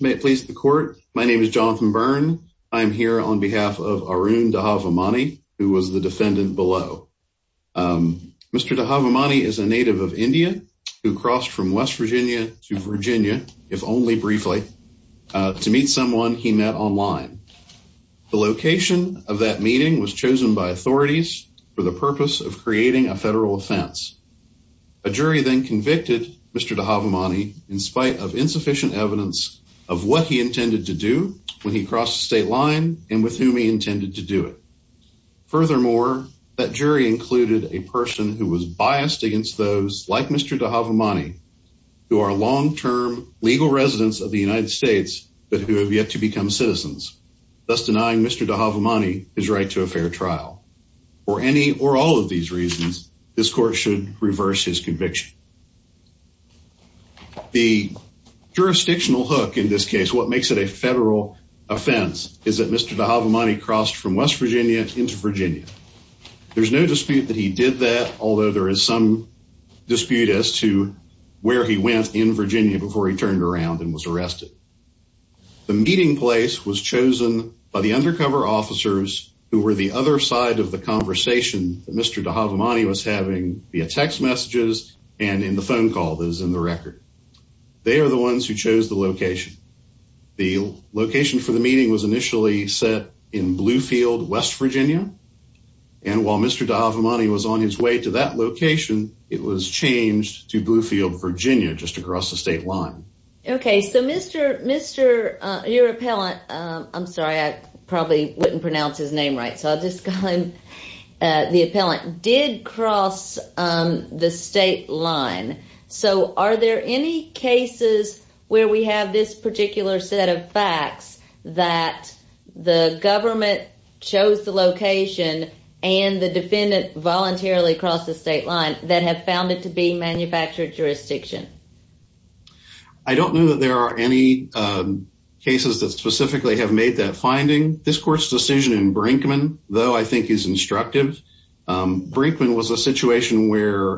May it please the court. My name is Jonathan Byrne. I'm here on behalf of Arun Dhavamani, who was the defendant below. Mr. Dhavamani is a native of India who crossed from West Virginia to Virginia, if only briefly, to meet someone he met online. The location of that meeting was chosen by authorities for the purpose of creating a federal offense. A jury then convicted Mr. Dhavamani in spite of insufficient evidence of what he intended to do when he crossed the state with whom he intended to do it. Furthermore, that jury included a person who was biased against those like Mr. Dhavamani, who are long-term legal residents of the United States, but who have yet to become citizens, thus denying Mr. Dhavamani his right to a fair trial. For any or all of these reasons, this court should reverse his conviction. The jurisdictional hook in this case, what makes it a federal offense, is that Mr. Dhavamani crossed from West Virginia into Virginia. There's no dispute that he did that, although there is some dispute as to where he went in Virginia before he turned around and was arrested. The meeting place was chosen by the undercover officers who were the other side of the conversation that Mr. Dhavamani was having via text messages and in the phone call that is in the record. They are the ones who chose the location for the meeting was initially set in Bluefield, West Virginia, and while Mr. Dhavamani was on his way to that location, it was changed to Bluefield, Virginia, just across the state line. Okay, so Mr. your appellant, I'm sorry, I probably wouldn't pronounce his name right, so I'll just call him the appellant, did cross the state line. So are there any cases where we have this particular set of facts that the government chose the location and the defendant voluntarily crossed the state line that have found it to be manufactured jurisdiction? I don't know that there are any cases that specifically have made that finding. This court's decision in Brinkman, though I think is instructive, Brinkman was a situation where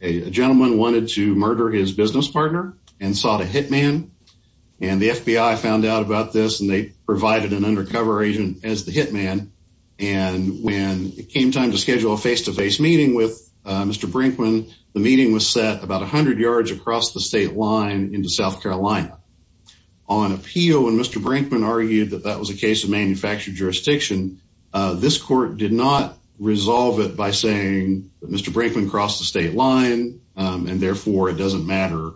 a gentleman wanted to murder his business partner and sought a hitman and the FBI found out about this and they provided an undercover agent as the hitman and when it came time to schedule a face-to-face meeting with Mr. Brinkman, the meeting was set about 100 yards across the state line into South Carolina. On appeal, when Mr. Brinkman argued that that was a case of manufactured jurisdiction, this court did not resolve it by saying that Mr. Brinkman crossed the state line and therefore it doesn't matter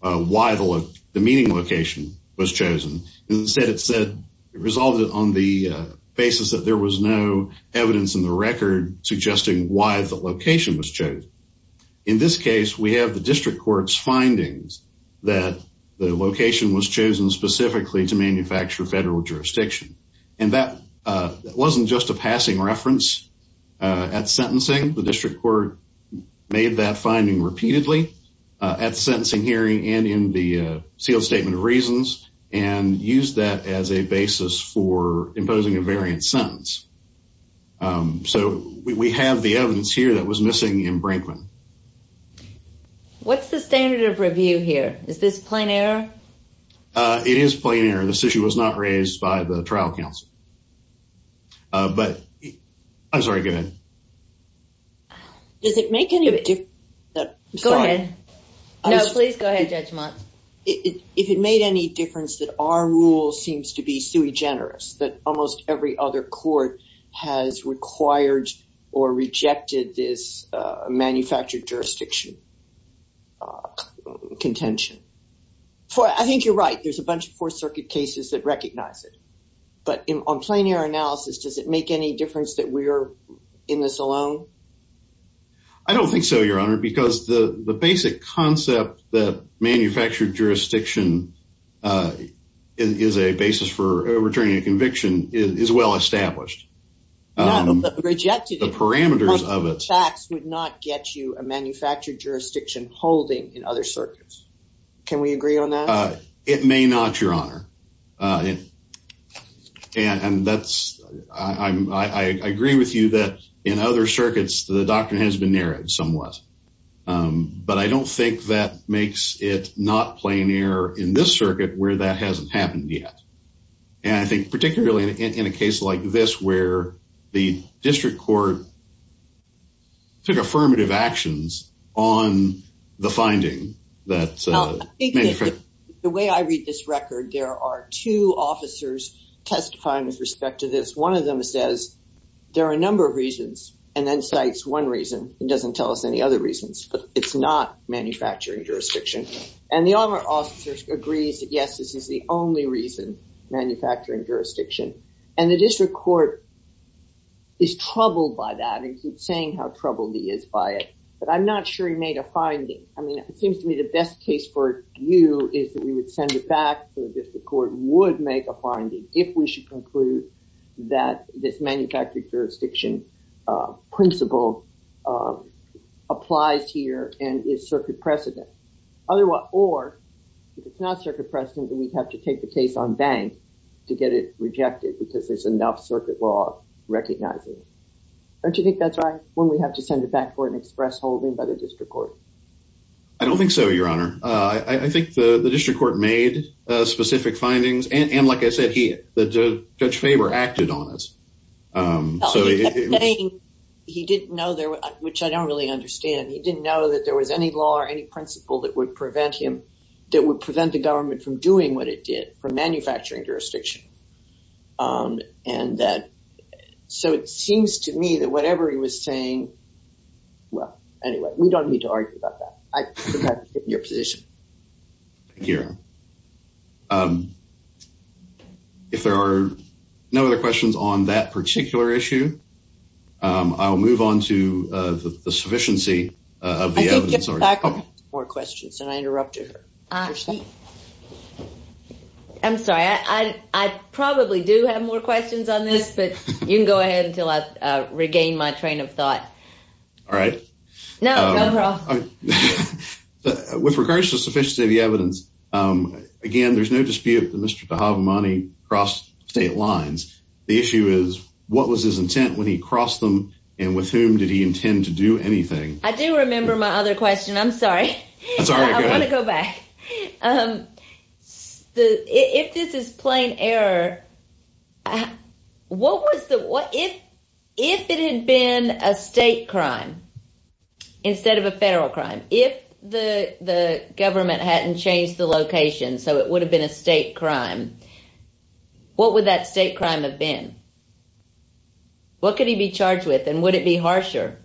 why the meeting location was chosen. Instead, it said it resolved it on the basis that there was no evidence in the record suggesting why the location was chosen. In this case, we have the district court's findings that the location was chosen specifically to manufacture federal jurisdiction and that wasn't just a passing reference at sentencing. The district court made that finding repeatedly at the sentencing hearing and in the sealed statement of reasons and used that as a basis for imposing a variant sentence. So we have the evidence here that was missing in Brinkman. What's the standard of review here? Is this plain error? Uh, it is plain error. This issue was not raised by the trial counsel. Uh, but I'm sorry, go ahead. Does it make any of it? Go ahead. No, please go ahead, Judge Mott. If it made any difference that our rule seems to be sui generis, that almost every other court has required or rejected this manufactured jurisdiction contention. I think you're right. There's a bunch of Fourth Circuit cases that recognize it, but on plain error analysis, does it make any difference that we're in this alone? I don't think so, Your Honor, because the basic concept that manufactured jurisdiction uh, is a basis for returning a conviction is well established. The parameters of it would not get you a manufactured jurisdiction holding in other circuits. Can we agree on that? It may not, Your Honor. And that's, I agree with you that in other circuits the doctrine has been narrowed somewhat. But I don't think that makes it not plain error in this circuit where that hasn't happened yet. And I think particularly in a case like this where the district court took affirmative actions on the finding that, uh, the way I read this record, there are two officers testifying with respect to this. One of them says there are a number of reasons and then cites one reason. It doesn't tell us any other reasons, it's not manufacturing jurisdiction. And the other officer agrees that yes, this is the only reason, manufacturing jurisdiction. And the district court is troubled by that and keeps saying how troubled he is by it. But I'm not sure he made a finding. I mean, it seems to me the best case for you is that we would send it back to the district court would make a finding if we should conclude that this manufactured jurisdiction principle applies here and is circuit precedent. Or if it's not circuit precedent, then we'd have to take the case on bank to get it rejected because there's enough circuit law recognizing it. Don't you think that's right when we have to send it back for an express holding by the district court? I don't think so, Your Honor. I think the district court made specific findings and like I said, Judge Faber acted on it. He didn't know, which I don't really understand, he didn't know that there was any law or any principle that would prevent him, that would prevent the government from doing what it did for manufacturing jurisdiction. So it seems to me that whatever he was saying, well, anyway, we don't need to argue about that. I think that's your position. Thank you, Your Honor. If there are no other questions on that particular issue, I'll move on to the sufficiency of the evidence. I think you have more questions and I interrupted her. I'm sorry, I probably do have more questions on this, but you can go ahead until I regain my thought. All right. No, go for it. With regards to sufficiency of the evidence, again, there's no dispute that Mr. Dhabhamani crossed state lines. The issue is what was his intent when he crossed them and with whom did he intend to do anything? I do remember my other question. If there had been a state crime instead of a federal crime, if the government hadn't changed the location so it would have been a state crime, what would that state crime have been? What could he be charged with and would it be harsher?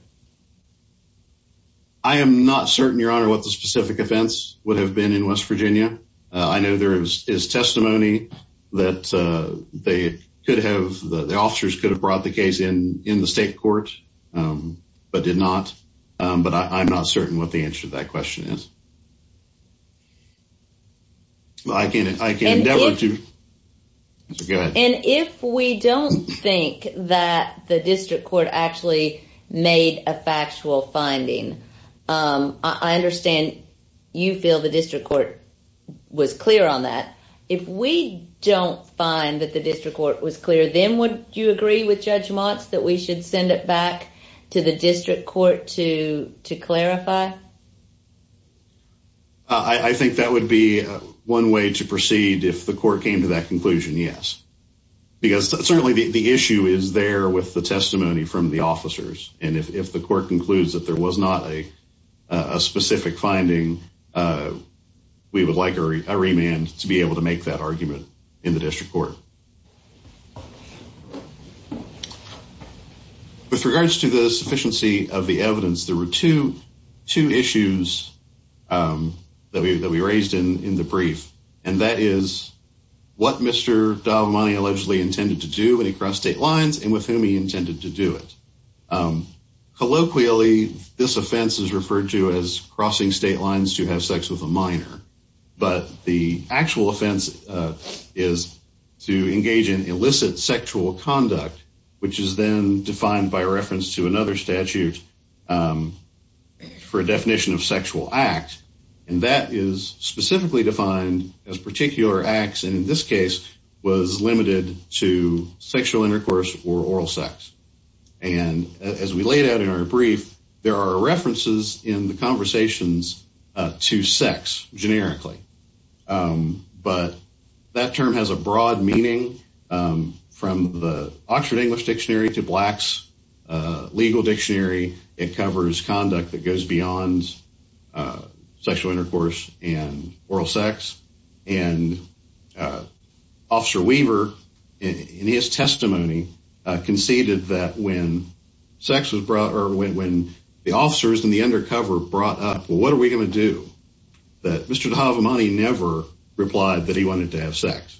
I am not certain, Your Honor, what the specific offense would have been in West Virginia. I know there is testimony that they could have, the officers could have brought the case in the state court but did not, but I'm not certain what the answer to that question is. And if we don't think that the district court actually made a factual finding, I understand you feel the district court was clear on that. If we don't find that the district court was clear, then would you agree with Judge Motz that we should send it back to the district court to clarify? I think that would be one way to proceed if the court came to that conclusion, yes. Because certainly the issue is there with the testimony from the officers and if the court concludes that there was not a specific finding, we would like a remand to be able to make that claim. With regards to the sufficiency of the evidence, there were two issues that we raised in the brief and that is what Mr. Dalmani allegedly intended to do when he crossed state lines and with whom he intended to do it. Colloquially, this offense is referred to crossing state lines to have sex with a minor, but the actual offense is to engage in illicit sexual conduct, which is then defined by reference to another statute for a definition of sexual act and that is specifically defined as particular acts and in this case was limited to sexual intercourses to sex, generically. But that term has a broad meaning from the Oxford English Dictionary to Black's legal dictionary. It covers conduct that goes beyond sexual intercourse and oral sex and Officer Weaver, in his testimony, conceded that when the officers in the undercover brought up, well what are we going to do, that Mr. Dalmani never replied that he wanted to have sex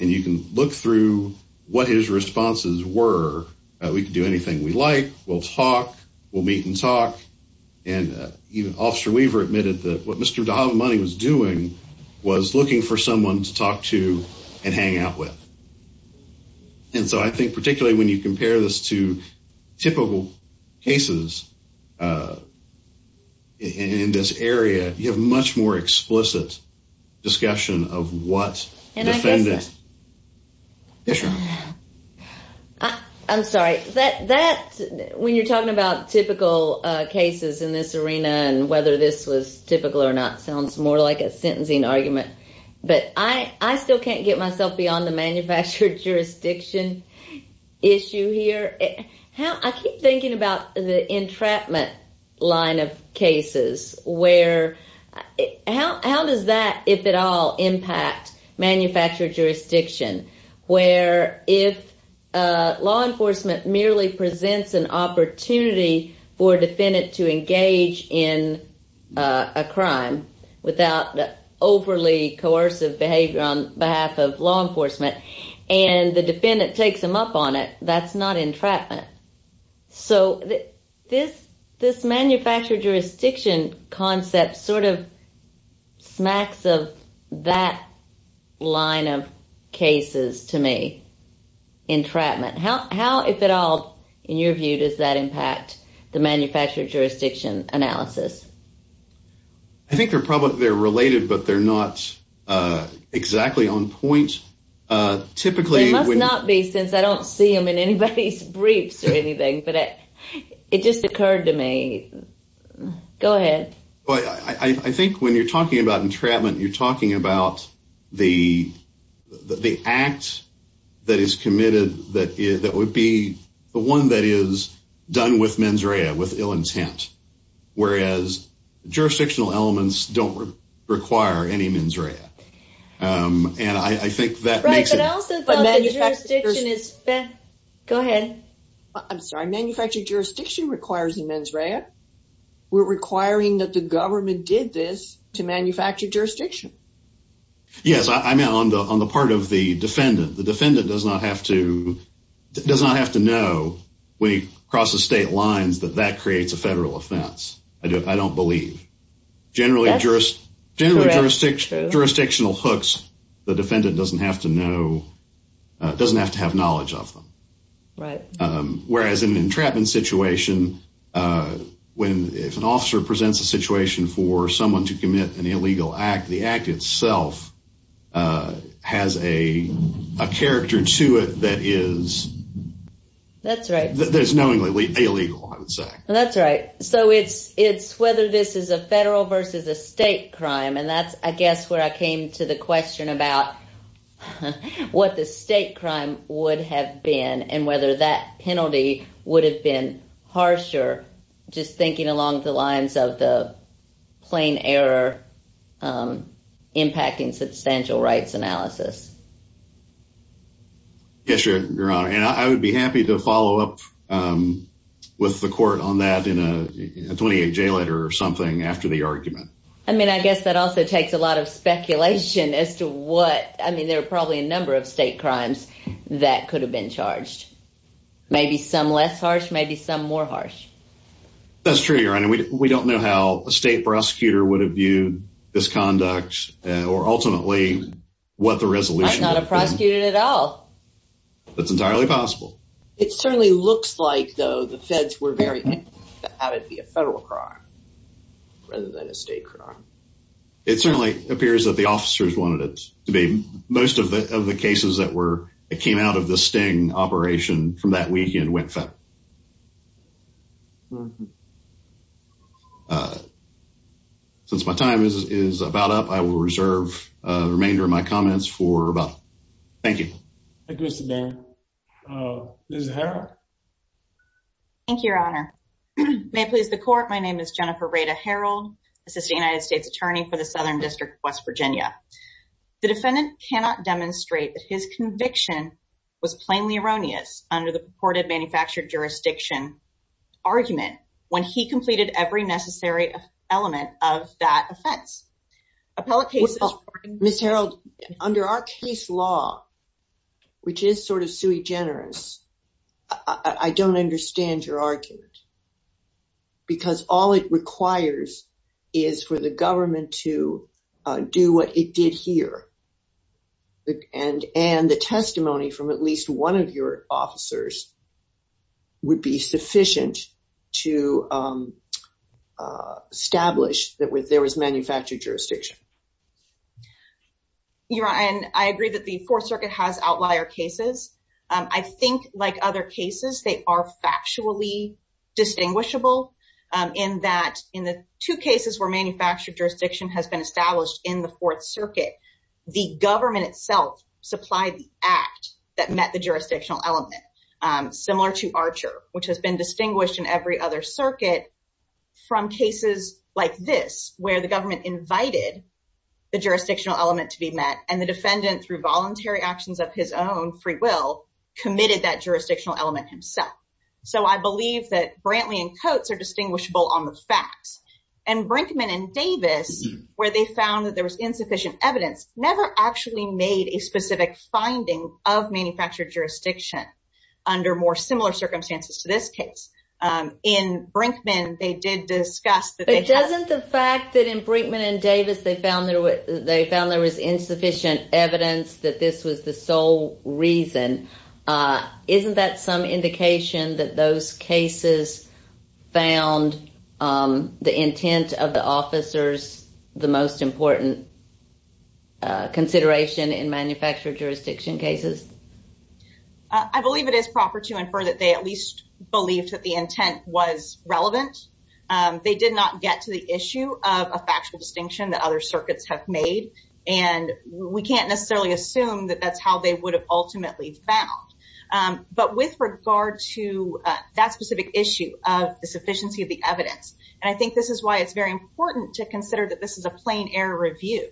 and you can look through what his responses were. We could do anything we like, we'll talk, we'll meet and talk and even Officer Weaver admitted that what Mr. Dalmani was doing was looking for someone to talk to and hang out with and so I think particularly when you compare this to typical cases in this area, you have much more explicit discussion of what defendant. I'm sorry, when you're talking about typical cases in this arena and whether this was typical or not sounds more like a sentencing argument, but I still can't get myself beyond the manufactured jurisdiction issue here. I keep thinking about the entrapment line of cases where, how does that, if at all, impact manufactured jurisdiction where if law enforcement merely presents an opportunity for a defendant to engage in a crime without overly coercive behavior on the defendant takes them up on it, that's not entrapment. So this manufactured jurisdiction concept sort of smacks of that line of cases to me, entrapment. How, if at all, in your view, does that impact the manufactured jurisdiction analysis? I think they're probably, they're related, but they're not exactly on point. Typically, they must not be since I don't see them in anybody's briefs or anything, but it just occurred to me. Go ahead. Well, I think when you're talking about entrapment, you're talking about the act that is committed, that would be the one that is done with mens rea, with ill intent. Whereas jurisdictional elements don't require any mens rea. And I think that makes it... Go ahead. I'm sorry, manufactured jurisdiction requires the mens rea. We're requiring that the government did this to manufacture jurisdiction. Yes, I'm on the part of the defendant. The defendant does not have to, does not have to know when he crosses state lines that that creates a federal offense. I don't believe. Generally jurisdictional hooks, the defendant doesn't have to know, doesn't have to have knowledge of them. Right. Whereas in an entrapment situation, if an officer presents a situation for someone to commit an illegal act, the act itself has a character to it that is... That's right. There's knowingly illegal, I would say. That's right. So it's whether this is a federal versus a state crime. And that's, I guess, where I came to the question about what the state crime would have been and whether that penalty would have been harsher, just thinking along the lines of the plain error impacting substantial rights analysis. Yes, Your Honor. And I would be happy to follow up with the court on that in a 28-J letter or something after the argument. I mean, I guess that also takes a lot of speculation as to what, I mean, there are probably a number of state crimes that could have been charged. Maybe some less harsh, maybe some more harsh. That's true, Your Honor. We don't know how a state prosecutor would have viewed this conduct or ultimately what the resolution would have been. I'm not a prosecutor at all. That's entirely possible. It certainly looks like, though, the feds were very... that it'd be a federal crime rather than a state crime. It certainly appears that the officers wanted it to be. Most of the cases that came out of the Sting operation from that weekend went federal. Since my time is about up, I will reserve the remainder of my comments for rebuttal. Thank you. Thank you, Mr. Barron. Ms. Harrell. Thank you, Your Honor. May it please the court, my name is Jennifer Rada Harrell, Assistant United States Attorney for the Southern District of West Virginia. The defendant cannot demonstrate that his conviction was plainly erroneous under the purported manufactured jurisdiction argument when he completed every necessary element of that offense. Appellate cases... Ms. Harrell, under our case law, which is sort of sui generis, I don't understand your argument because all it requires is for the government to do what it did here. And the testimony from at least one of your officers would be sufficient to establish that there was manufactured jurisdiction. Your Honor, I agree that the Fourth Circuit has outlier cases. I think like other cases, they are factually distinguishable in that in the two cases where manufactured jurisdiction has been established in the Fourth Circuit, the government itself supplied the act that met the jurisdictional element, similar to Archer, which has been distinguished in every other circuit from cases like this, where the government invited the jurisdictional element to be met, and the defendant, through voluntary actions of his own free will, committed that jurisdictional element himself. So I believe that Brantley and Coates are distinguishable on the facts. And Brinkman and Davis, where they found that there was insufficient evidence, never actually made a specific finding of manufactured jurisdiction under more similar circumstances to this case. In Brinkman, they did discuss that... But doesn't the fact that in Brinkman and Davis, they found there was insufficient evidence that this was the sole reason, isn't that some indication that those cases found the intent of the officers the most important consideration in manufactured jurisdiction cases? I believe it is proper to infer that they at least believed that the intent was relevant. They did not get to the issue of a factual distinction that other circuits have made, and we can't necessarily assume that that's how they would have ultimately found. But with regard to that specific issue of the sufficiency of the evidence, and I think this is why it's very important to consider that this is a plain error review.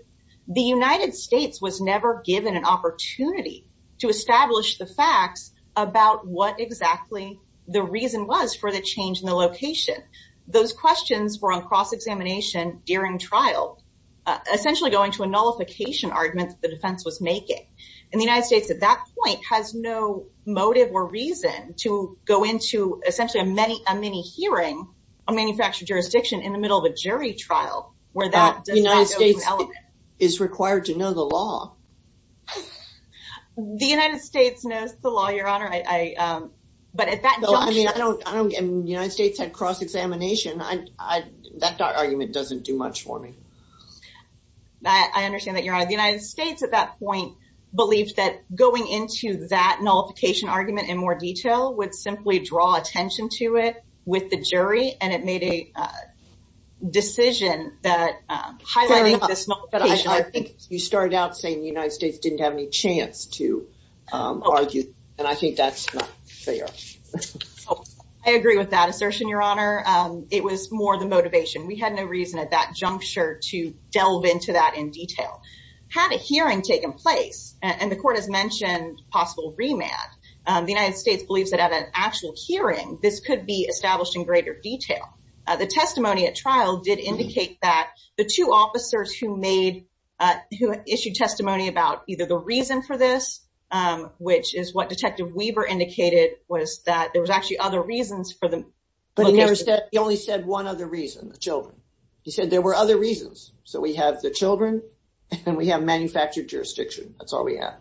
The United States was never given an opportunity to establish the facts about what exactly the reason was for the change in the location. Those questions were on cross-examination during trial, essentially going to a nullification argument that the defense was making. And the United States at that point has no motive or reason to go into essentially a mini hearing on manufactured jurisdiction in the middle of a jury trial where that does not go to element. It's required to know the law. The United States knows the law, Your Honor. But at that juncture... I mean, the United States had cross-examination. That argument doesn't do much for me. I understand that, Your Honor. The United States at that point believed that going into that nullification argument in more detail would simply draw attention to it with the jury, and it made a decision that highlighting this... Fair enough. I think you started out saying the United States didn't have any chance to argue, and I think that's not fair. I agree with that assertion, Your Honor. It was more the motivation. We had no reason at that juncture to delve into that in detail. Had a hearing taken place, and the Court has mentioned possible remand, the United States believes that at an actual hearing, this could be established in greater detail. The testimony at trial did indicate that the two officers who issued testimony about either the reason for this, which is what Detective Weaver indicated, was that there was actually other reasons for the... But he only said one other reason, the children. He said there were other reasons. So we have the children, and we have manufactured jurisdiction. That's all we have.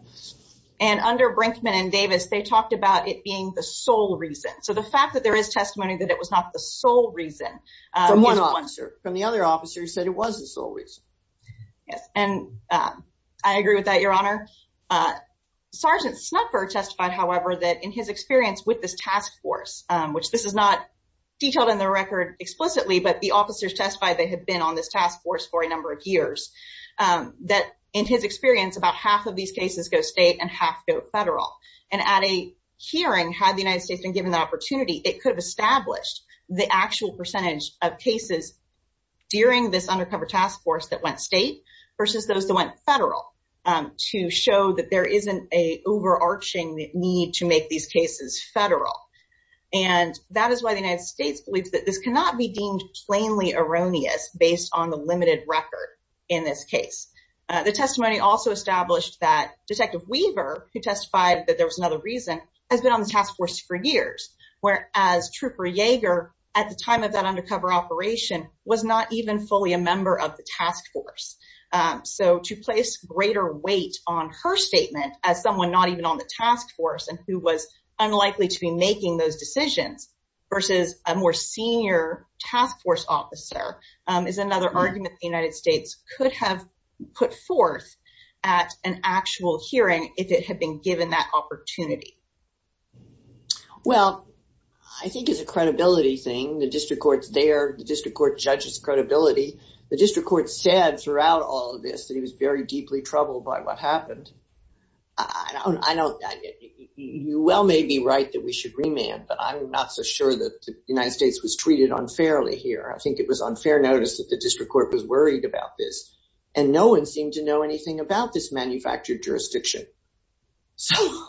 And under Brinkman and Davis, they talked about it being the sole reason. So the fact that there is testimony that it was not the sole reason... From one officer. From the other officer who said it was the sole reason. Yes. And I agree with that, Your Honor. Sergeant Snupper testified, however, that in his experience with this task force, which this is not detailed in the record explicitly, but the officers testified they had been on this task force for a number of years, that in his experience, about half of these cases go state and half go federal. And at a hearing, had the United States been given the testimony, they could have established the actual percentage of cases during this undercover task force that went state versus those that went federal to show that there isn't an overarching need to make these cases federal. And that is why the United States believes that this cannot be deemed plainly erroneous based on the limited record in this case. The testimony also established that Detective Weaver, who testified that there was another reason, has been on the task force for years, whereas Trooper Yeager, at the time of that undercover operation, was not even fully a member of the task force. So to place greater weight on her statement as someone not even on the task force and who was unlikely to be making those decisions versus a more senior task force officer is another argument the United States could have put forth at an actual hearing if it had been given that opportunity. Well, I think it's a credibility thing. The district court's there. The district court judges credibility. The district court said throughout all of this that he was very deeply troubled by what happened. You well may be right that we should remand, but I'm not so sure that the United States was treated unfairly here. I think it was unfair notice that the district court was worried about this, and no one seemed to know anything about this manufactured jurisdiction. So,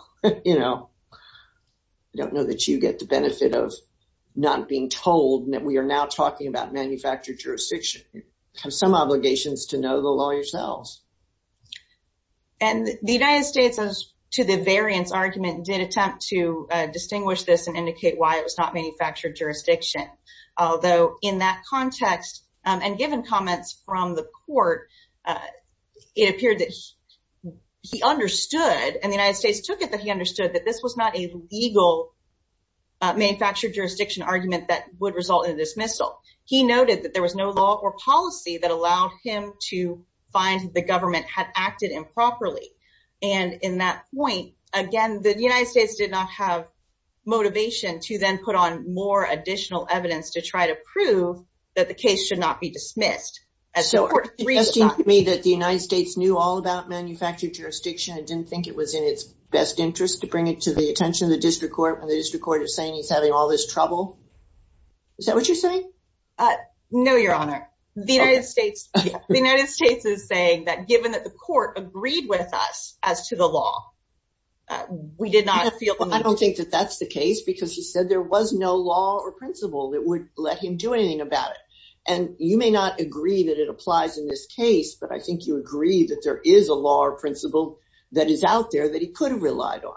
you know, I don't know that you get the benefit of not being told that we are now talking about manufactured jurisdiction. You have some obligations to know the law yourselves. And the United States, to the variance argument, did attempt to distinguish this and indicate why it was not manufactured jurisdiction. Although in that context and given comments from the court, it appeared that he understood and the United States took it that he understood that this was not a legal manufactured jurisdiction argument that would result in a dismissal. He noted that there was no law or policy that allowed him to find the government had acted improperly. And in that point, again, the United States did not have motivation to then put on more additional evidence to try to prove that the case should not be dismissed. So, are you suggesting to me that the United States knew all about manufactured jurisdiction and didn't think it was in its best interest to bring it to the attention of the district court when the district court is saying he's having all this trouble? Is that what you're saying? No, Your Honor. The United States is saying that given that the court agreed with us as to the law, we did not feel... I don't think that that's the case because he said there was no law or principle that would let him do anything about it. And you may not agree that it applies in this case, but I think you agree that there is a law or principle that is out there that he could have relied on.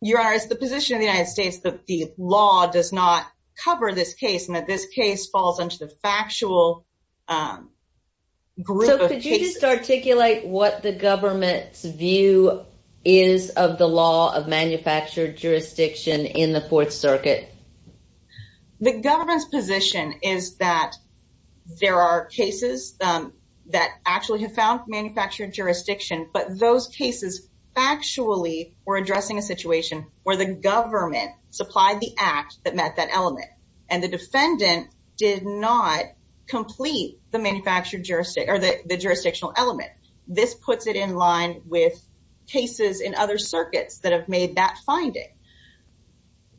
Your Honor, it's the position of the United States that the law does not cover this case and that this case falls into the factual group of cases. So, could you just articulate what the government's view is of the law of manufactured jurisdiction in the Fourth Circuit? The government's position is that there are cases that actually have found manufactured jurisdiction, but those cases factually were addressing a situation where the government supplied the act that met that element. And the defendant did not complete the jurisdictional element. This puts it in line with cases in other circuits that have made that finding.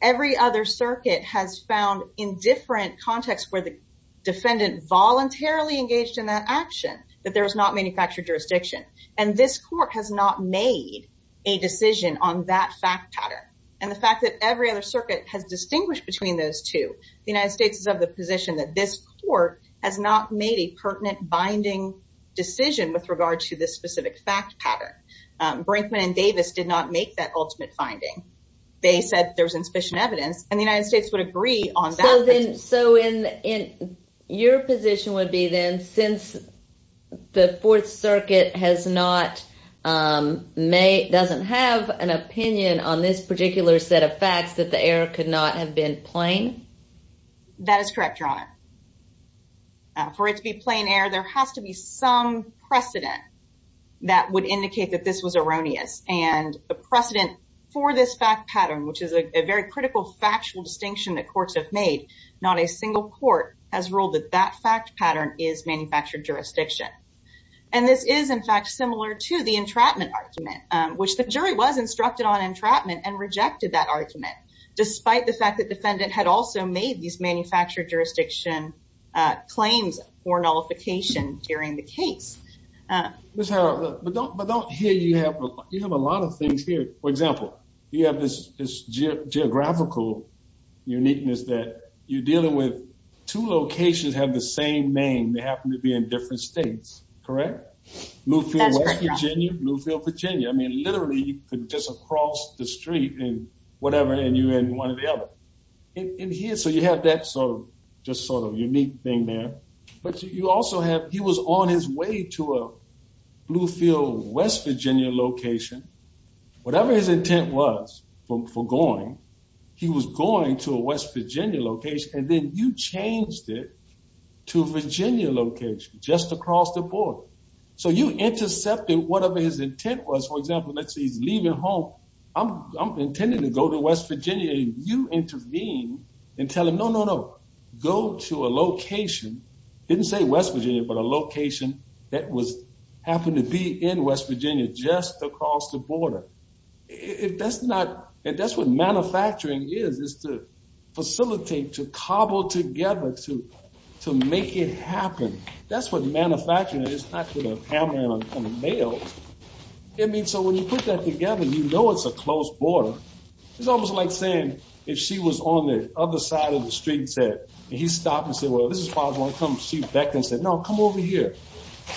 Every other circuit has found in different contexts where the defendant voluntarily engaged in that action, that there was not manufactured jurisdiction. And this court has not made a decision on that fact pattern. And the fact that every other circuit has distinguished between those two, the United States is of the position that this court has not made a pertinent binding decision with regard to this specific fact pattern. Brinkman and Davis did not make that ultimate finding. They said there was insufficient evidence and the United States would agree on that. So, your position would be then, since the Fourth Circuit doesn't have an opinion on this particular set of facts, that the error could not have been plain? That is correct, Your Honor. For it to be plain error, there has to be some precedent that would indicate that this was erroneous. And a precedent for this fact pattern, which is a very critical factual distinction that not a single court has ruled that that fact pattern is manufactured jurisdiction. And this is, in fact, similar to the entrapment argument, which the jury was instructed on entrapment and rejected that argument, despite the fact that defendant had also made these manufactured jurisdiction claims for nullification during the case. Ms. Harrell, but don't here you have a lot of things here. For example, you have this geographical uniqueness that you're dealing with. Two locations have the same name. They happen to be in different states, correct? Bluefield, West Virginia, Bluefield, Virginia. I mean, literally, you could just cross the street in whatever and you're in one or the other. And here, so you have that sort of just sort of unique thing there. But you also have, he was on his way to a Bluefield, West Virginia location. Whatever his intent was for going, he was going to a West Virginia location. And then you changed it to Virginia location just across the board. So you intercepted whatever his intent was. For example, let's say he's leaving home. I'm intending to go to West Virginia. You intervene and tell him, go to a location, didn't say West Virginia, but a location that happened to be in West Virginia, just across the border. If that's not, that's what manufacturing is, is to facilitate, to cobble together, to make it happen. That's what manufacturing is, not hammering on the mail. I mean, so when you put that together, you know it's a close border. It's almost like saying, if she was on the other side of the street and said, and he stopped and said, well, this is possible. I come back and said, no, come over here.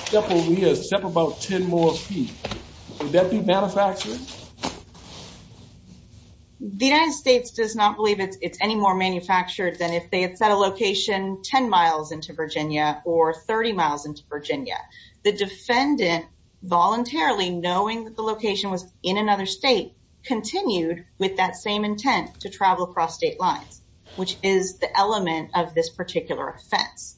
Step over here. Step about 10 more feet. Would that be manufacturing? The United States does not believe it's any more manufactured than if they had set a location 10 miles into Virginia or 30 miles into Virginia. The defendant voluntarily, knowing that the location was in another state, continued with that same intent to travel across state lines, which is the element of this particular offense.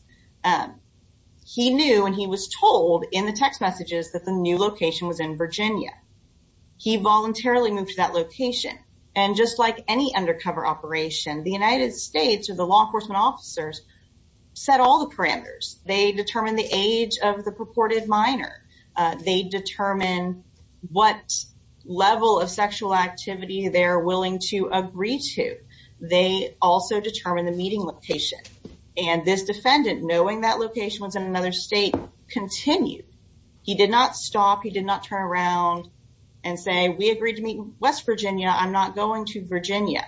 He knew and he was told in the text messages that the new location was in Virginia. He voluntarily moved to that location. And just like any undercover operation, the United States or the law enforcement officers set all the parameters. They determine the age of the purported minor. They determine what level of sexual activity they're willing to agree to. They also determine the meeting location. And this defendant, knowing that location was in another state, continued. He did not stop. He did not turn around and say, we agreed to meet in West Virginia. I'm not going to Virginia.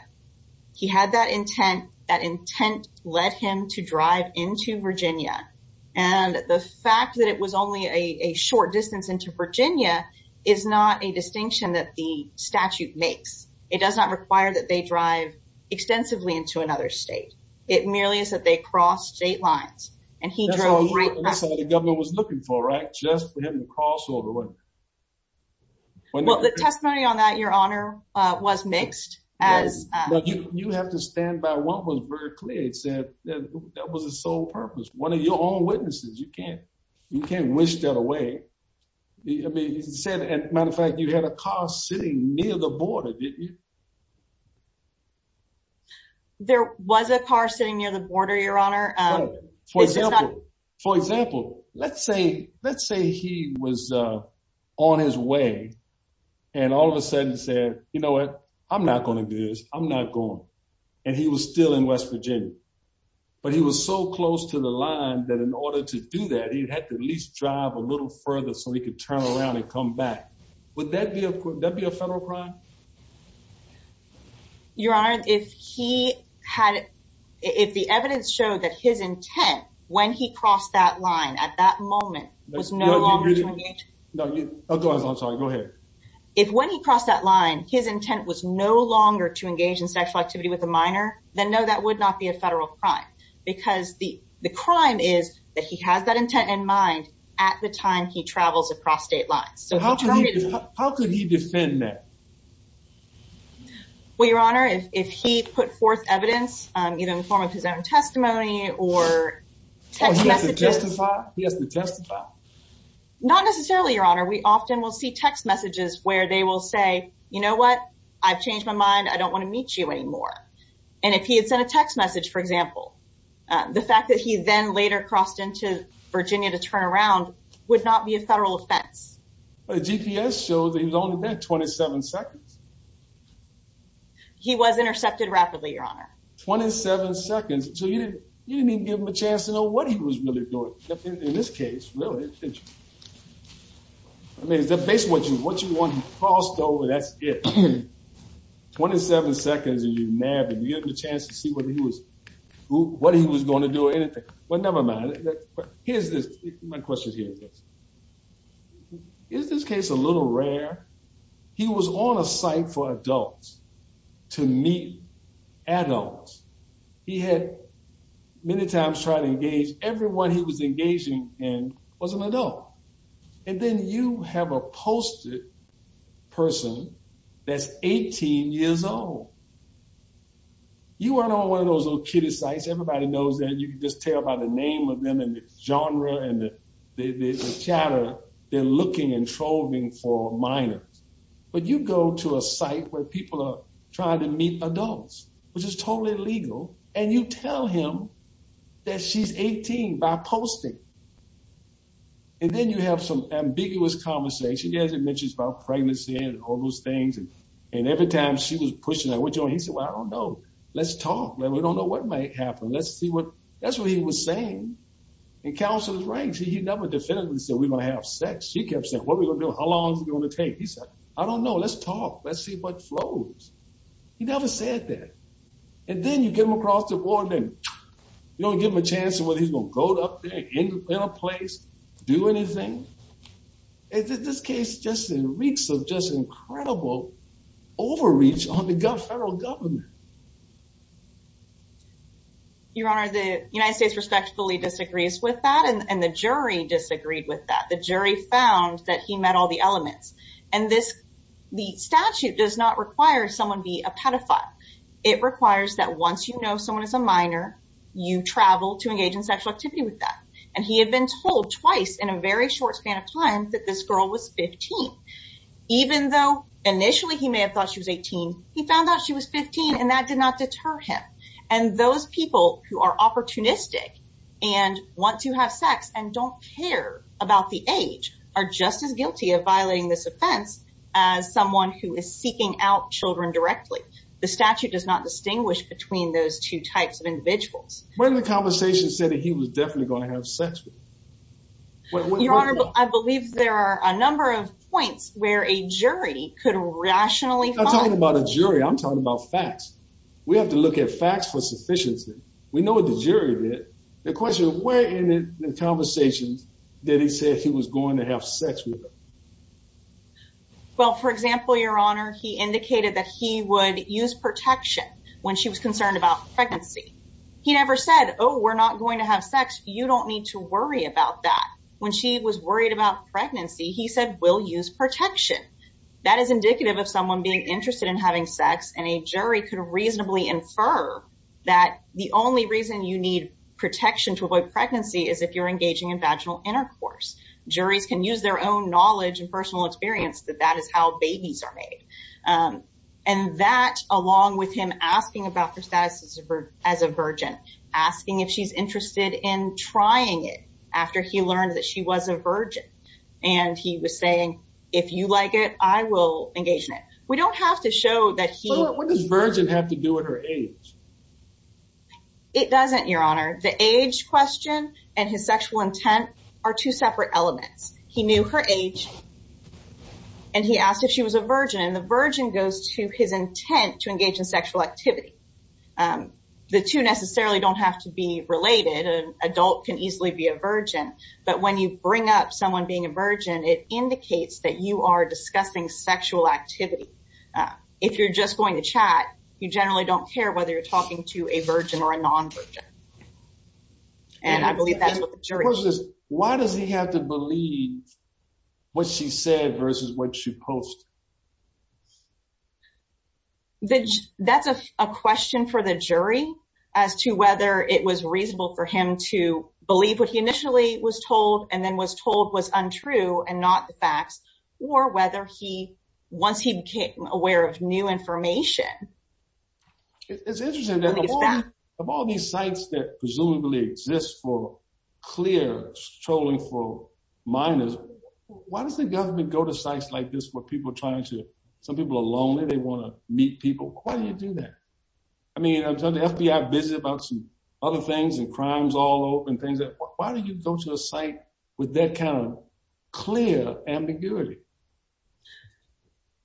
He had that intent. That intent led him to drive into Virginia. And the fact that it was only a short distance into Virginia is not a distinction that the statute makes. It does not require that they drive extensively into another state. It merely is that they cross state lines. And he drove right across. That's what the governor was looking for, right? Just for him to cross over, wasn't it? Well, the testimony on that, Your Honor, was mixed. But you have to stand by what was very clear. It said that was his sole purpose. One of your own witnesses. You can't wish that away. Matter of fact, you had a car sitting near the border, didn't you? There was a car sitting near the border, Your Honor. For example, let's say he was on his way and all of a sudden said, you know what, I'm not going to do this. I'm not going. And he was still in West Virginia. But he was so close to the line that in order to do that, he'd have to at least drive a little further so he could turn around and come back. Would that be a federal crime? Your Honor, if the evidence showed that his intent when he crossed that line at that moment was no longer to engage in sexual activity with a minor, then no, that would not be a federal crime. Because the crime is that he has that intent in mind at the time he travels across state lines. So how could he defend that? Well, Your Honor, if he put forth evidence, either in the form of his own testimony or text messages. Oh, he has to justify? He has to justify? Not necessarily, Your Honor. We often will see text messages where they will say, you know what, I've changed my mind. I don't want to meet you anymore. And if he had sent a text message, for example, the fact that he then later crossed into Virginia to turn around would not be a federal offense. But the GPS shows he was only there 27 seconds. He was intercepted rapidly, Your Honor. 27 seconds. So you didn't even give him a chance to know what he was really doing in this case, really. I mean, is that based on what you want him crossed over? That's it. 27 seconds and you nab him. You have the chance to see whether he was, what he was going to do or anything. Well, never mind. Here's this, my question here is this. Is this case a little rare? He was on a site for adults to meet adults. He had many times tried to engage everyone he was engaging and was an adult. And then you have a posted person that's 18 years old. You weren't on one of those little kiddy sites. Everybody knows that. You just tell by the name of them and the genre and the chatter, they're looking and trolling for minors. But you go to a site where people are trying to meet adults, which is totally illegal. And you tell him that she's 18 by posting. And then you have some ambiguous conversation. He hasn't mentioned about pregnancy and all those things. And every time she was pushing that, what do you want? He said, well, I don't know. Let's talk. We don't know what might happen. That's what he was saying. And counsel is right. He never definitively said we don't have sex. He kept saying, what are we going to do? How long is it going to take? He said, I don't know. Let's talk. Let's see what flows. He never said that. And then you get him across the board and you don't give him a chance of whether he's going to go up there in a place, do anything. Is this case in reeks of just incredible overreach on the federal government? Your Honor, the United States respectfully disagrees with that. And the jury disagreed with that. The jury found that he met all the elements. And the statute does not require someone be a pedophile. It requires that once you know someone is a minor, you travel to engage in sexual activity with that. And he had been told twice in a very short span of time that this girl was 15. Even though initially he may have thought she was 18, he found out she was 15 and that did not deter him. And those people who are opportunistic and want to have sex and don't care about the age are just as guilty of violating this offense as someone who is seeking out children directly. The statute does not distinguish between those two types of individuals. When the conversation said that he was definitely going to have sex with her. Your Honor, I believe there are a number of points where a jury could rationally. I'm not talking about a jury. I'm talking about facts. We have to look at facts for sufficiency. We know what the jury did. The question, where in the conversations did he say he was going to have sex with her? Well, for example, Your Honor, he indicated that he would use protection when she was concerned about pregnancy. He never said, oh, we're not going to have sex. You don't need to worry about that. When she was worried about pregnancy, he said, we'll use protection. That is indicative of someone being interested in having sex. And a jury could reasonably infer that the only reason you need protection to avoid pregnancy is if you're engaging in vaginal intercourse. Juries can use their own knowledge and personal experience that that is how babies are made. And that, along with him asking about her status as a virgin, asking if she's interested in trying it after he learned that she was a virgin. And he was saying, if you like it, I will engage in it. We don't have to show that he... What does virgin have to do with her age? It doesn't, Your Honor. The age question and his sexual intent are two separate elements. He knew her age and he asked if she was a virgin. And the virgin goes to his intent to engage in adult can easily be a virgin. But when you bring up someone being a virgin, it indicates that you are discussing sexual activity. If you're just going to chat, you generally don't care whether you're talking to a virgin or a non-virgin. And I believe that's what the jury... Why does he have to believe what she said versus what she posted? That's a question for the jury as to whether it was reasonable for him to believe what he initially was told and then was told was untrue and not the facts or whether he, once he became aware of new information. It's interesting that of all these sites that presumably exists for clear trolling for minors, why does the government go to sites like this where people are trying to... Some people are lonely. They want to meet people. Why do you do that? I mean, I'm telling the FBI busy about some other things and crimes all over and things that... Why do you go to a site with that kind of clear ambiguity?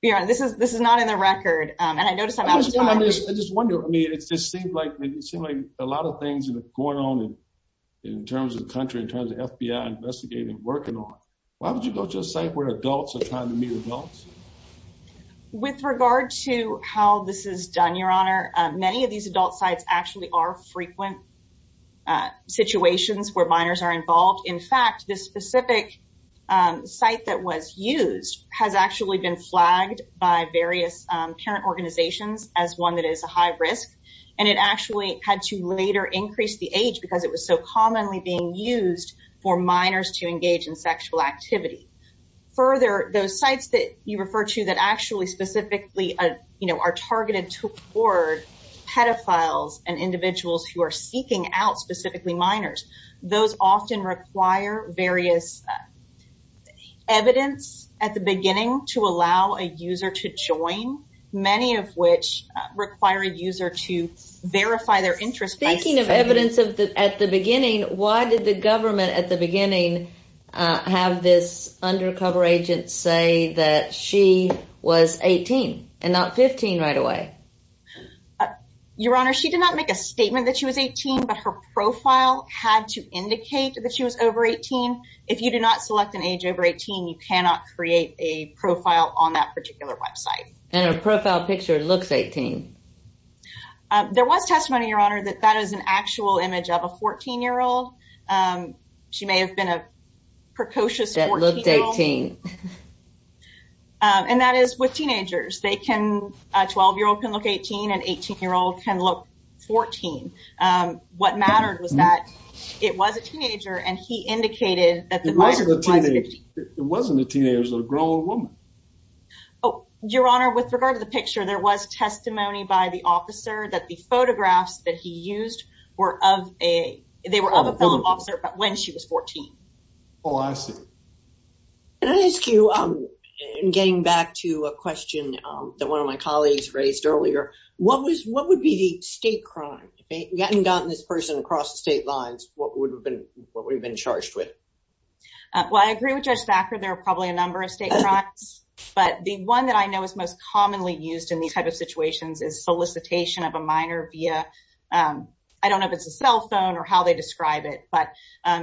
Your Honor, this is not in the record. And I noticed I'm out of time. I just wonder. I mean, it just seemed like a lot of things going on in terms of the country, in terms of FBI investigating, working on. Why would you go to a site where adults are trying to meet adults? With regard to how this is done, Your Honor, many of these adult sites actually are frequent situations where minors are involved. In fact, this specific site that was used has actually been flagged by various parent organizations as one that is a high risk. And it actually had to later increase the age because it was so commonly being used for minors to engage in sexual activity. Further, those sites that you refer to that actually specifically are targeted toward pedophiles and individuals who are seeking out specifically minors, those often require various evidence at the beginning to allow a user to join, many of which require a user to verify their interest by... Speaking of evidence at the beginning, why did the government at the beginning have this undercover agent say that she was 18 and not 15 right away? Your Honor, she did not make a statement that she was 18, but her profile had to indicate that she was over 18. If you do not select an age over 18, you cannot create a profile on that particular website. And her profile picture looks 18. There was testimony, Your Honor, that that is an actual image of a 14-year-old. She may have been a precocious 14-year-old. That looked 18. And that is with teenagers. A 12-year-old can look 18, an 18-year-old can look 14. What mattered was that it was a teenager and he indicated that... It wasn't a teenager. It wasn't a teenager. It was a grown woman. Oh, Your Honor, with regard to the picture, there was testimony by the officer that the photographs that he used were of a... They were of a fellow officer, but when she was 14. Oh, I see. Can I ask you, getting back to a question that one of my colleagues raised earlier, what would be the state crime? If we hadn't gotten this person across the state lines, what would have been charged with? Well, I agree with Judge Thacker. There are probably a number of state crimes, but the one that I know is most commonly used in these type of situations is solicitation of a minor via... I don't know if it's a cell phone or how they describe it, but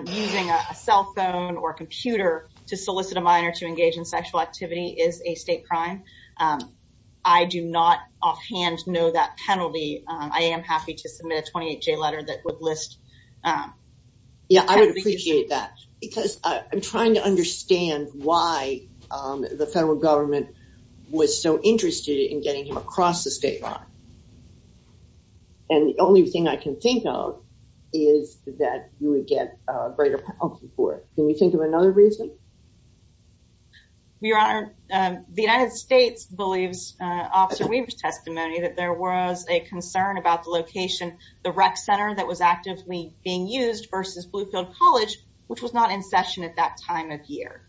using a cell phone or computer to solicit a minor to engage in sexual activity is a state crime. I do not offhand know that penalty. I am happy to submit a 28-J letter that would list... Yeah, I would appreciate that because I'm trying to understand why the federal government was so interested in getting him across the state line. And the only thing I can think of is that you would get a greater penalty for it. Can you think of another reason? Your Honor, the United States believes Officer Weaver's testimony that there was a concern about the location, the rec center that was actively being used versus Bluefield College, which was not in session at that time of year.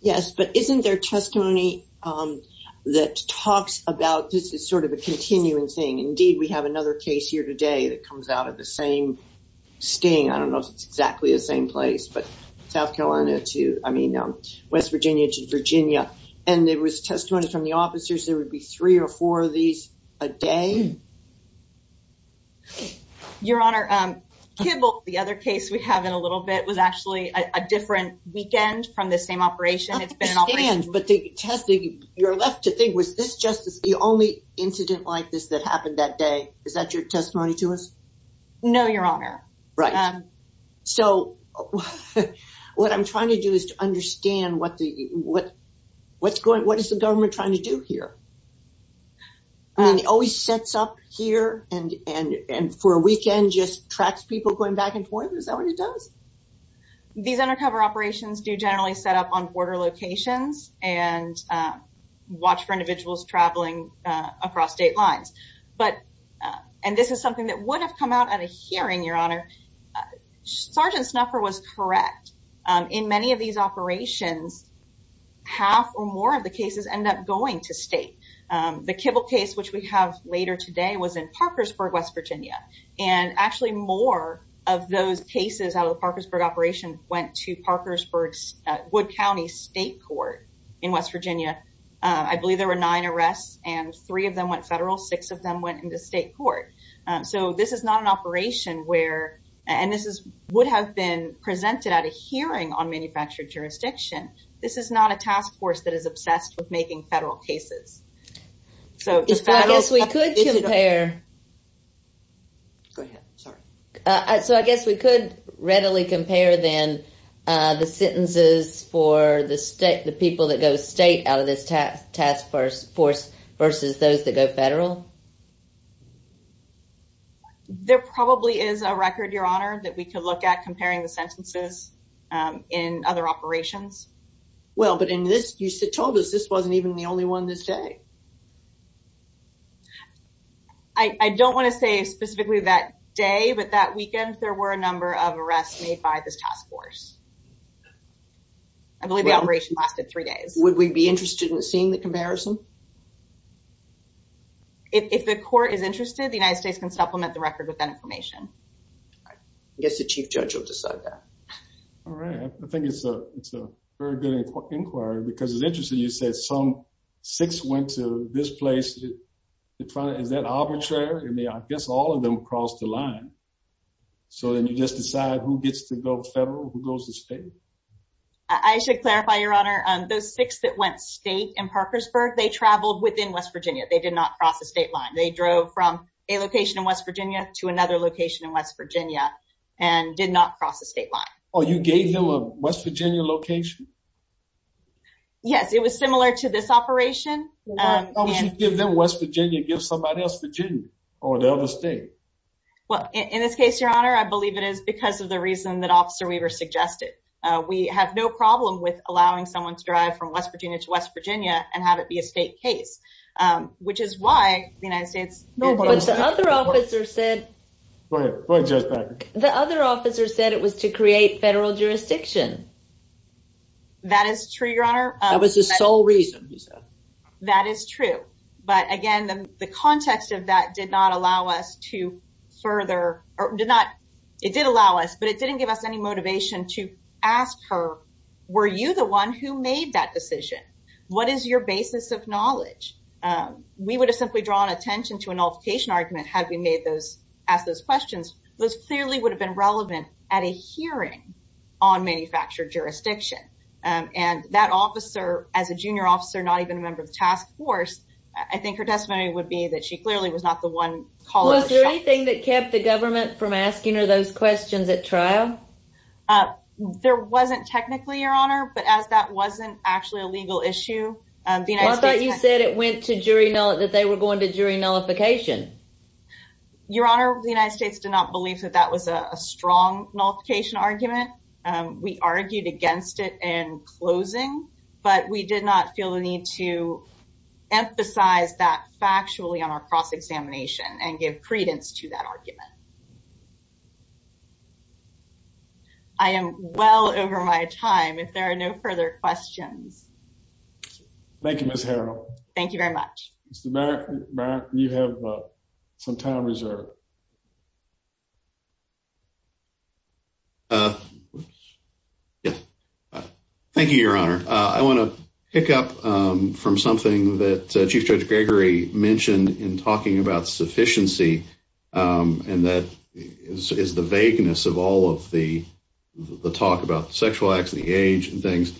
Yes, but isn't there testimony that talks about this as sort of a continuing thing? Indeed, we have another case here today that comes out of the same sting. I don't know if it's exactly the same place, but South Carolina to West Virginia to Virginia. And there was testimony from the officers. There would be three or four of these a day. Your Honor, Kibble, the other case we have in a little bit, was actually a different weekend from the same operation. It's been an operation... I understand, but you're left to think, was this just the only incident like this that happened that day? Is that your testimony to us? No, Your Honor. Right. So what I'm trying to do is to understand what is the government trying to do here? I mean, it always sets up here and for a weekend just tracks people going back and forth. Is that what it does? These undercover operations do generally set up on border locations and watch for individuals traveling across state lines. And this is something that would have come out at a hearing, Your Honor. Sergeant Snuffer was correct. In many of these operations, half or more of the cases end up going to state. The Kibble case, which we have later today, was in Parkersburg, West Virginia. And actually more of those cases out of the Parkersburg operation went to Parkersburg's Wood County State Court in West Virginia. I believe there were nine arrests and three of them went federal, six of them went into state court. So this is not an operation where... And this would have been presented at a hearing on manufactured jurisdiction. This is not a task force that is obsessed with making federal cases. So I guess we could compare... Go ahead. Sorry. So I guess we could readily compare then the sentences for the people that go state out of this task force versus those that go federal. There probably is a record, Your Honor, that we could look at comparing the sentences in other operations. Well, but in this, you told us this wasn't even the only one this day. I don't want to say specifically that day, but that weekend, there were a number of arrests made by this task force. I believe the operation lasted three days. Would we be interested in seeing the comparison? If the court is interested, the United States can supplement the record with that information. I guess the chief judge will decide that. All right. I think it's a very good inquiry because it's interesting. You said some six went to this place. Is that arbitrary? I guess all of them crossed the line. So then you just decide who gets to go federal, who goes to state. I should clarify, Your Honor, those six that went state in Parkersburg, they traveled within West Virginia. They did not cross the state line. They drove from a location in West Virginia to another location in West Virginia and did not cross the state line. Oh, you gave them a West Yes, it was similar to this operation. How would you give them West Virginia, give somebody else Virginia or the other state? Well, in this case, Your Honor, I believe it is because of the reason that Officer Weaver suggested. We have no problem with allowing someone to drive from West Virginia to West Virginia and have it be a state case, which is why the United States. But the other officer said the other officer said it was to create federal jurisdiction. That is true, Your Honor. That was the sole reason. That is true. But again, the context of that did not allow us to further or did not. It did allow us, but it didn't give us any motivation to ask her, were you the one who made that decision? What is your basis of knowledge? We would have simply drawn attention to a nullification argument had we made those ask those questions. Those clearly would have been relevant at a hearing on manufactured jurisdiction. And that officer, as a junior officer, not even a member of the task force, I think her testimony would be that she clearly was not the one. Was there anything that kept the government from asking her those questions at trial? There wasn't technically, Your Honor, but as that wasn't actually a legal issue, I thought you said it went to jury know that they were going to jury nullification. Your Honor, the United States did not believe that that was a strong nullification argument. We argued against it in closing, but we did not feel the need to emphasize that factually on our cross examination and give credence to that argument. I am well over my time if there are no further questions. Thank you, Miss Harrell. Thank you very much, Mr. Barrett. You have some time reserved. Yeah, thank you, Your Honor. I want to pick up from something that Chief Judge Gregory mentioned in talking about sufficiency. And that is the vagueness of all of the talk about sexual acts and the age and things.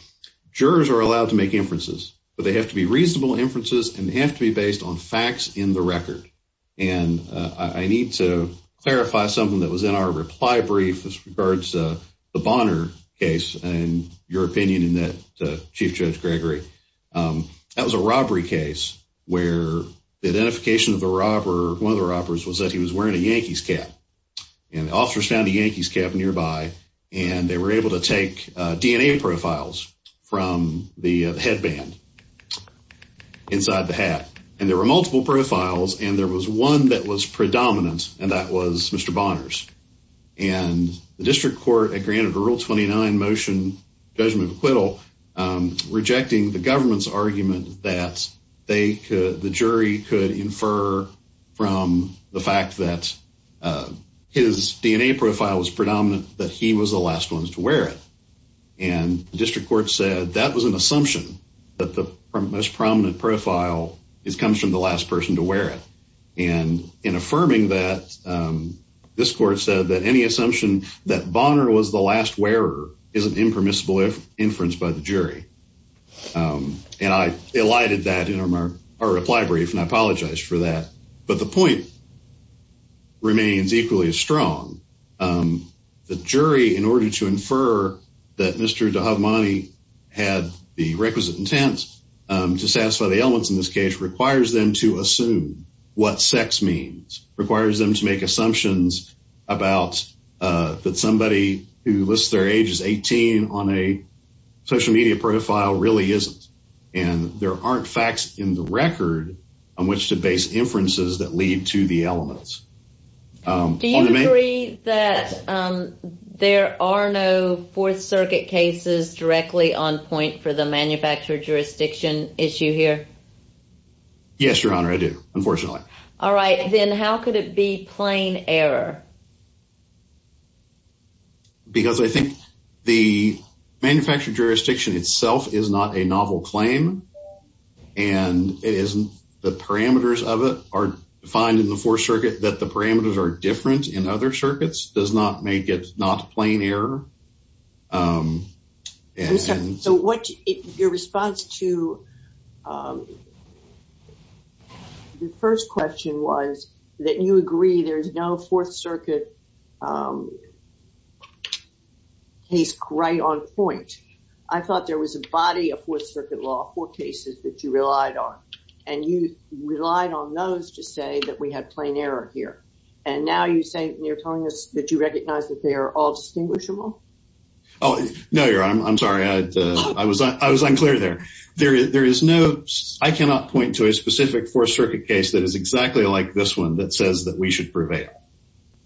Jurors are allowed to make inferences, but they have to be reasonable inferences, and they have to be based on facts in the record. And I need to clarify something that was in our reply brief as regards to the Bonner case and your opinion in that, Chief Judge Gregory. That was a robbery case where the identification of the robber, one of the robbers, was that he was wearing a Yankees cap. And officers found a take DNA profiles from the headband inside the hat. And there were multiple profiles, and there was one that was predominant, and that was Mr. Bonner's. And the district court had granted a Rule 29 motion, judgment of acquittal, rejecting the government's argument that the jury could infer from the fact that his DNA profile was predominant that he was the last to wear it. And the district court said that was an assumption that the most prominent profile comes from the last person to wear it. And in affirming that, this court said that any assumption that Bonner was the last wearer is an impermissible inference by the jury. And I elided that in our reply brief, and I apologize for that. But the point remains equally as strong. The jury, in order to infer that Mr. Dahabmani had the requisite intent to satisfy the elements in this case, requires them to assume what sex means, requires them to make assumptions about that somebody who lists their age as 18 on a social media profile really isn't. And there aren't facts in the record on which to base inferences that lead to the elements. Do you agree that there are no Fourth Circuit cases directly on point for the manufacturer jurisdiction issue here? Yes, Your Honor, I do, unfortunately. All right, then how could it be plain error? Because I think the manufacturer jurisdiction itself is not a circuit. That the parameters are different in other circuits does not make it not a plain error. So what your response to the first question was that you agree there is no Fourth Circuit case right on point. I thought there was a body of Fourth Circuit law, four cases that you relied on, and you relied on those to say that we had plain error here. And now you're telling us that you recognize that they are all distinguishable? Oh, no, Your Honor, I'm sorry. I was unclear there. I cannot point to a specific Fourth Circuit case that is exactly like this one that says that we should prevail.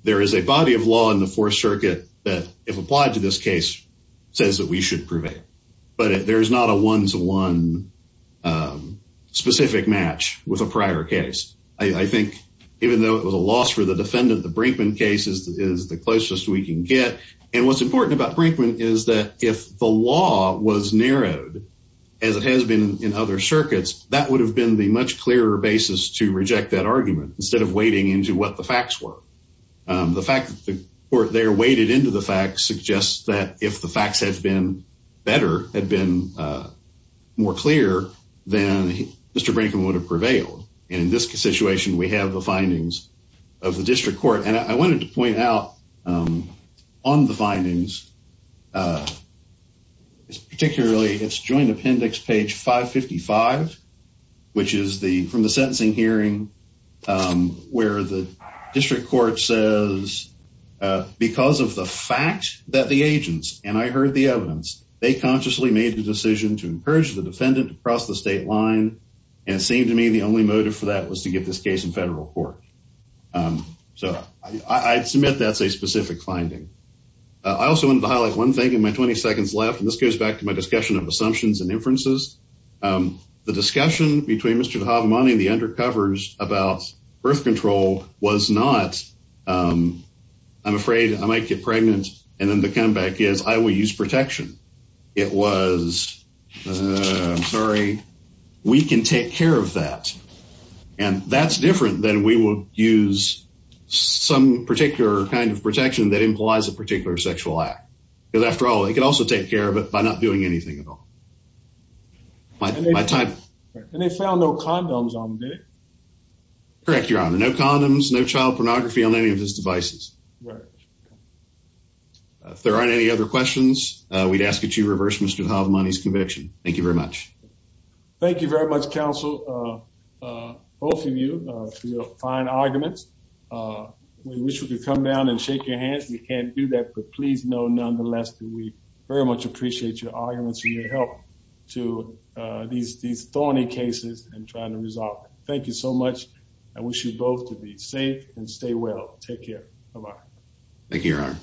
There is a body of law in the Fourth Circuit that, if applied to this case, says that we should prevail. But there is not a one-to-one specific match with a prior case. I think even though it was a loss for the defendant, the Brinkman case is the closest we can get. And what's important about Brinkman is that if the law was narrowed, as it has been in other circuits, that would have been the much clearer basis to reject that argument instead of wading into what the facts were. The fact that they're into the facts suggests that if the facts had been better, had been more clear, then Mr. Brinkman would have prevailed. And in this situation, we have the findings of the district court. And I wanted to point out on the findings, particularly its joint appendix, page 555, which is from the sentencing hearing, where the district court says, because of the fact that the agents, and I heard the evidence, they consciously made the decision to encourage the defendant to cross the state line. And it seemed to me the only motive for that was to get this case in federal court. So I'd submit that's a specific finding. I also wanted to highlight one thing in my 20 seconds left, and this goes back to my discussion of assumptions and inferences. The discussion between Mr. Dahabamani and the undercovers about birth control was not, I'm afraid I might get pregnant, and then the comeback is I will use protection. It was, I'm sorry, we can take care of that. And that's different than we will use some particular kind of protection that implies a particular sexual act. Because after it could also take care of it by not doing anything at all. And they found no condoms on him, did they? Correct, your honor. No condoms, no child pornography on any of his devices. If there aren't any other questions, we'd ask that you reverse Mr. Dahabamani's conviction. Thank you very much. Thank you very much, counsel, both of you for your fine arguments. We wish we could come down and shake your hands. We can't do that, but please know nonetheless that we very much appreciate your arguments and your help to these thorny cases and trying to resolve them. Thank you so much. I wish you both to be safe and stay well. Take care. Bye-bye. Thank you, your honor.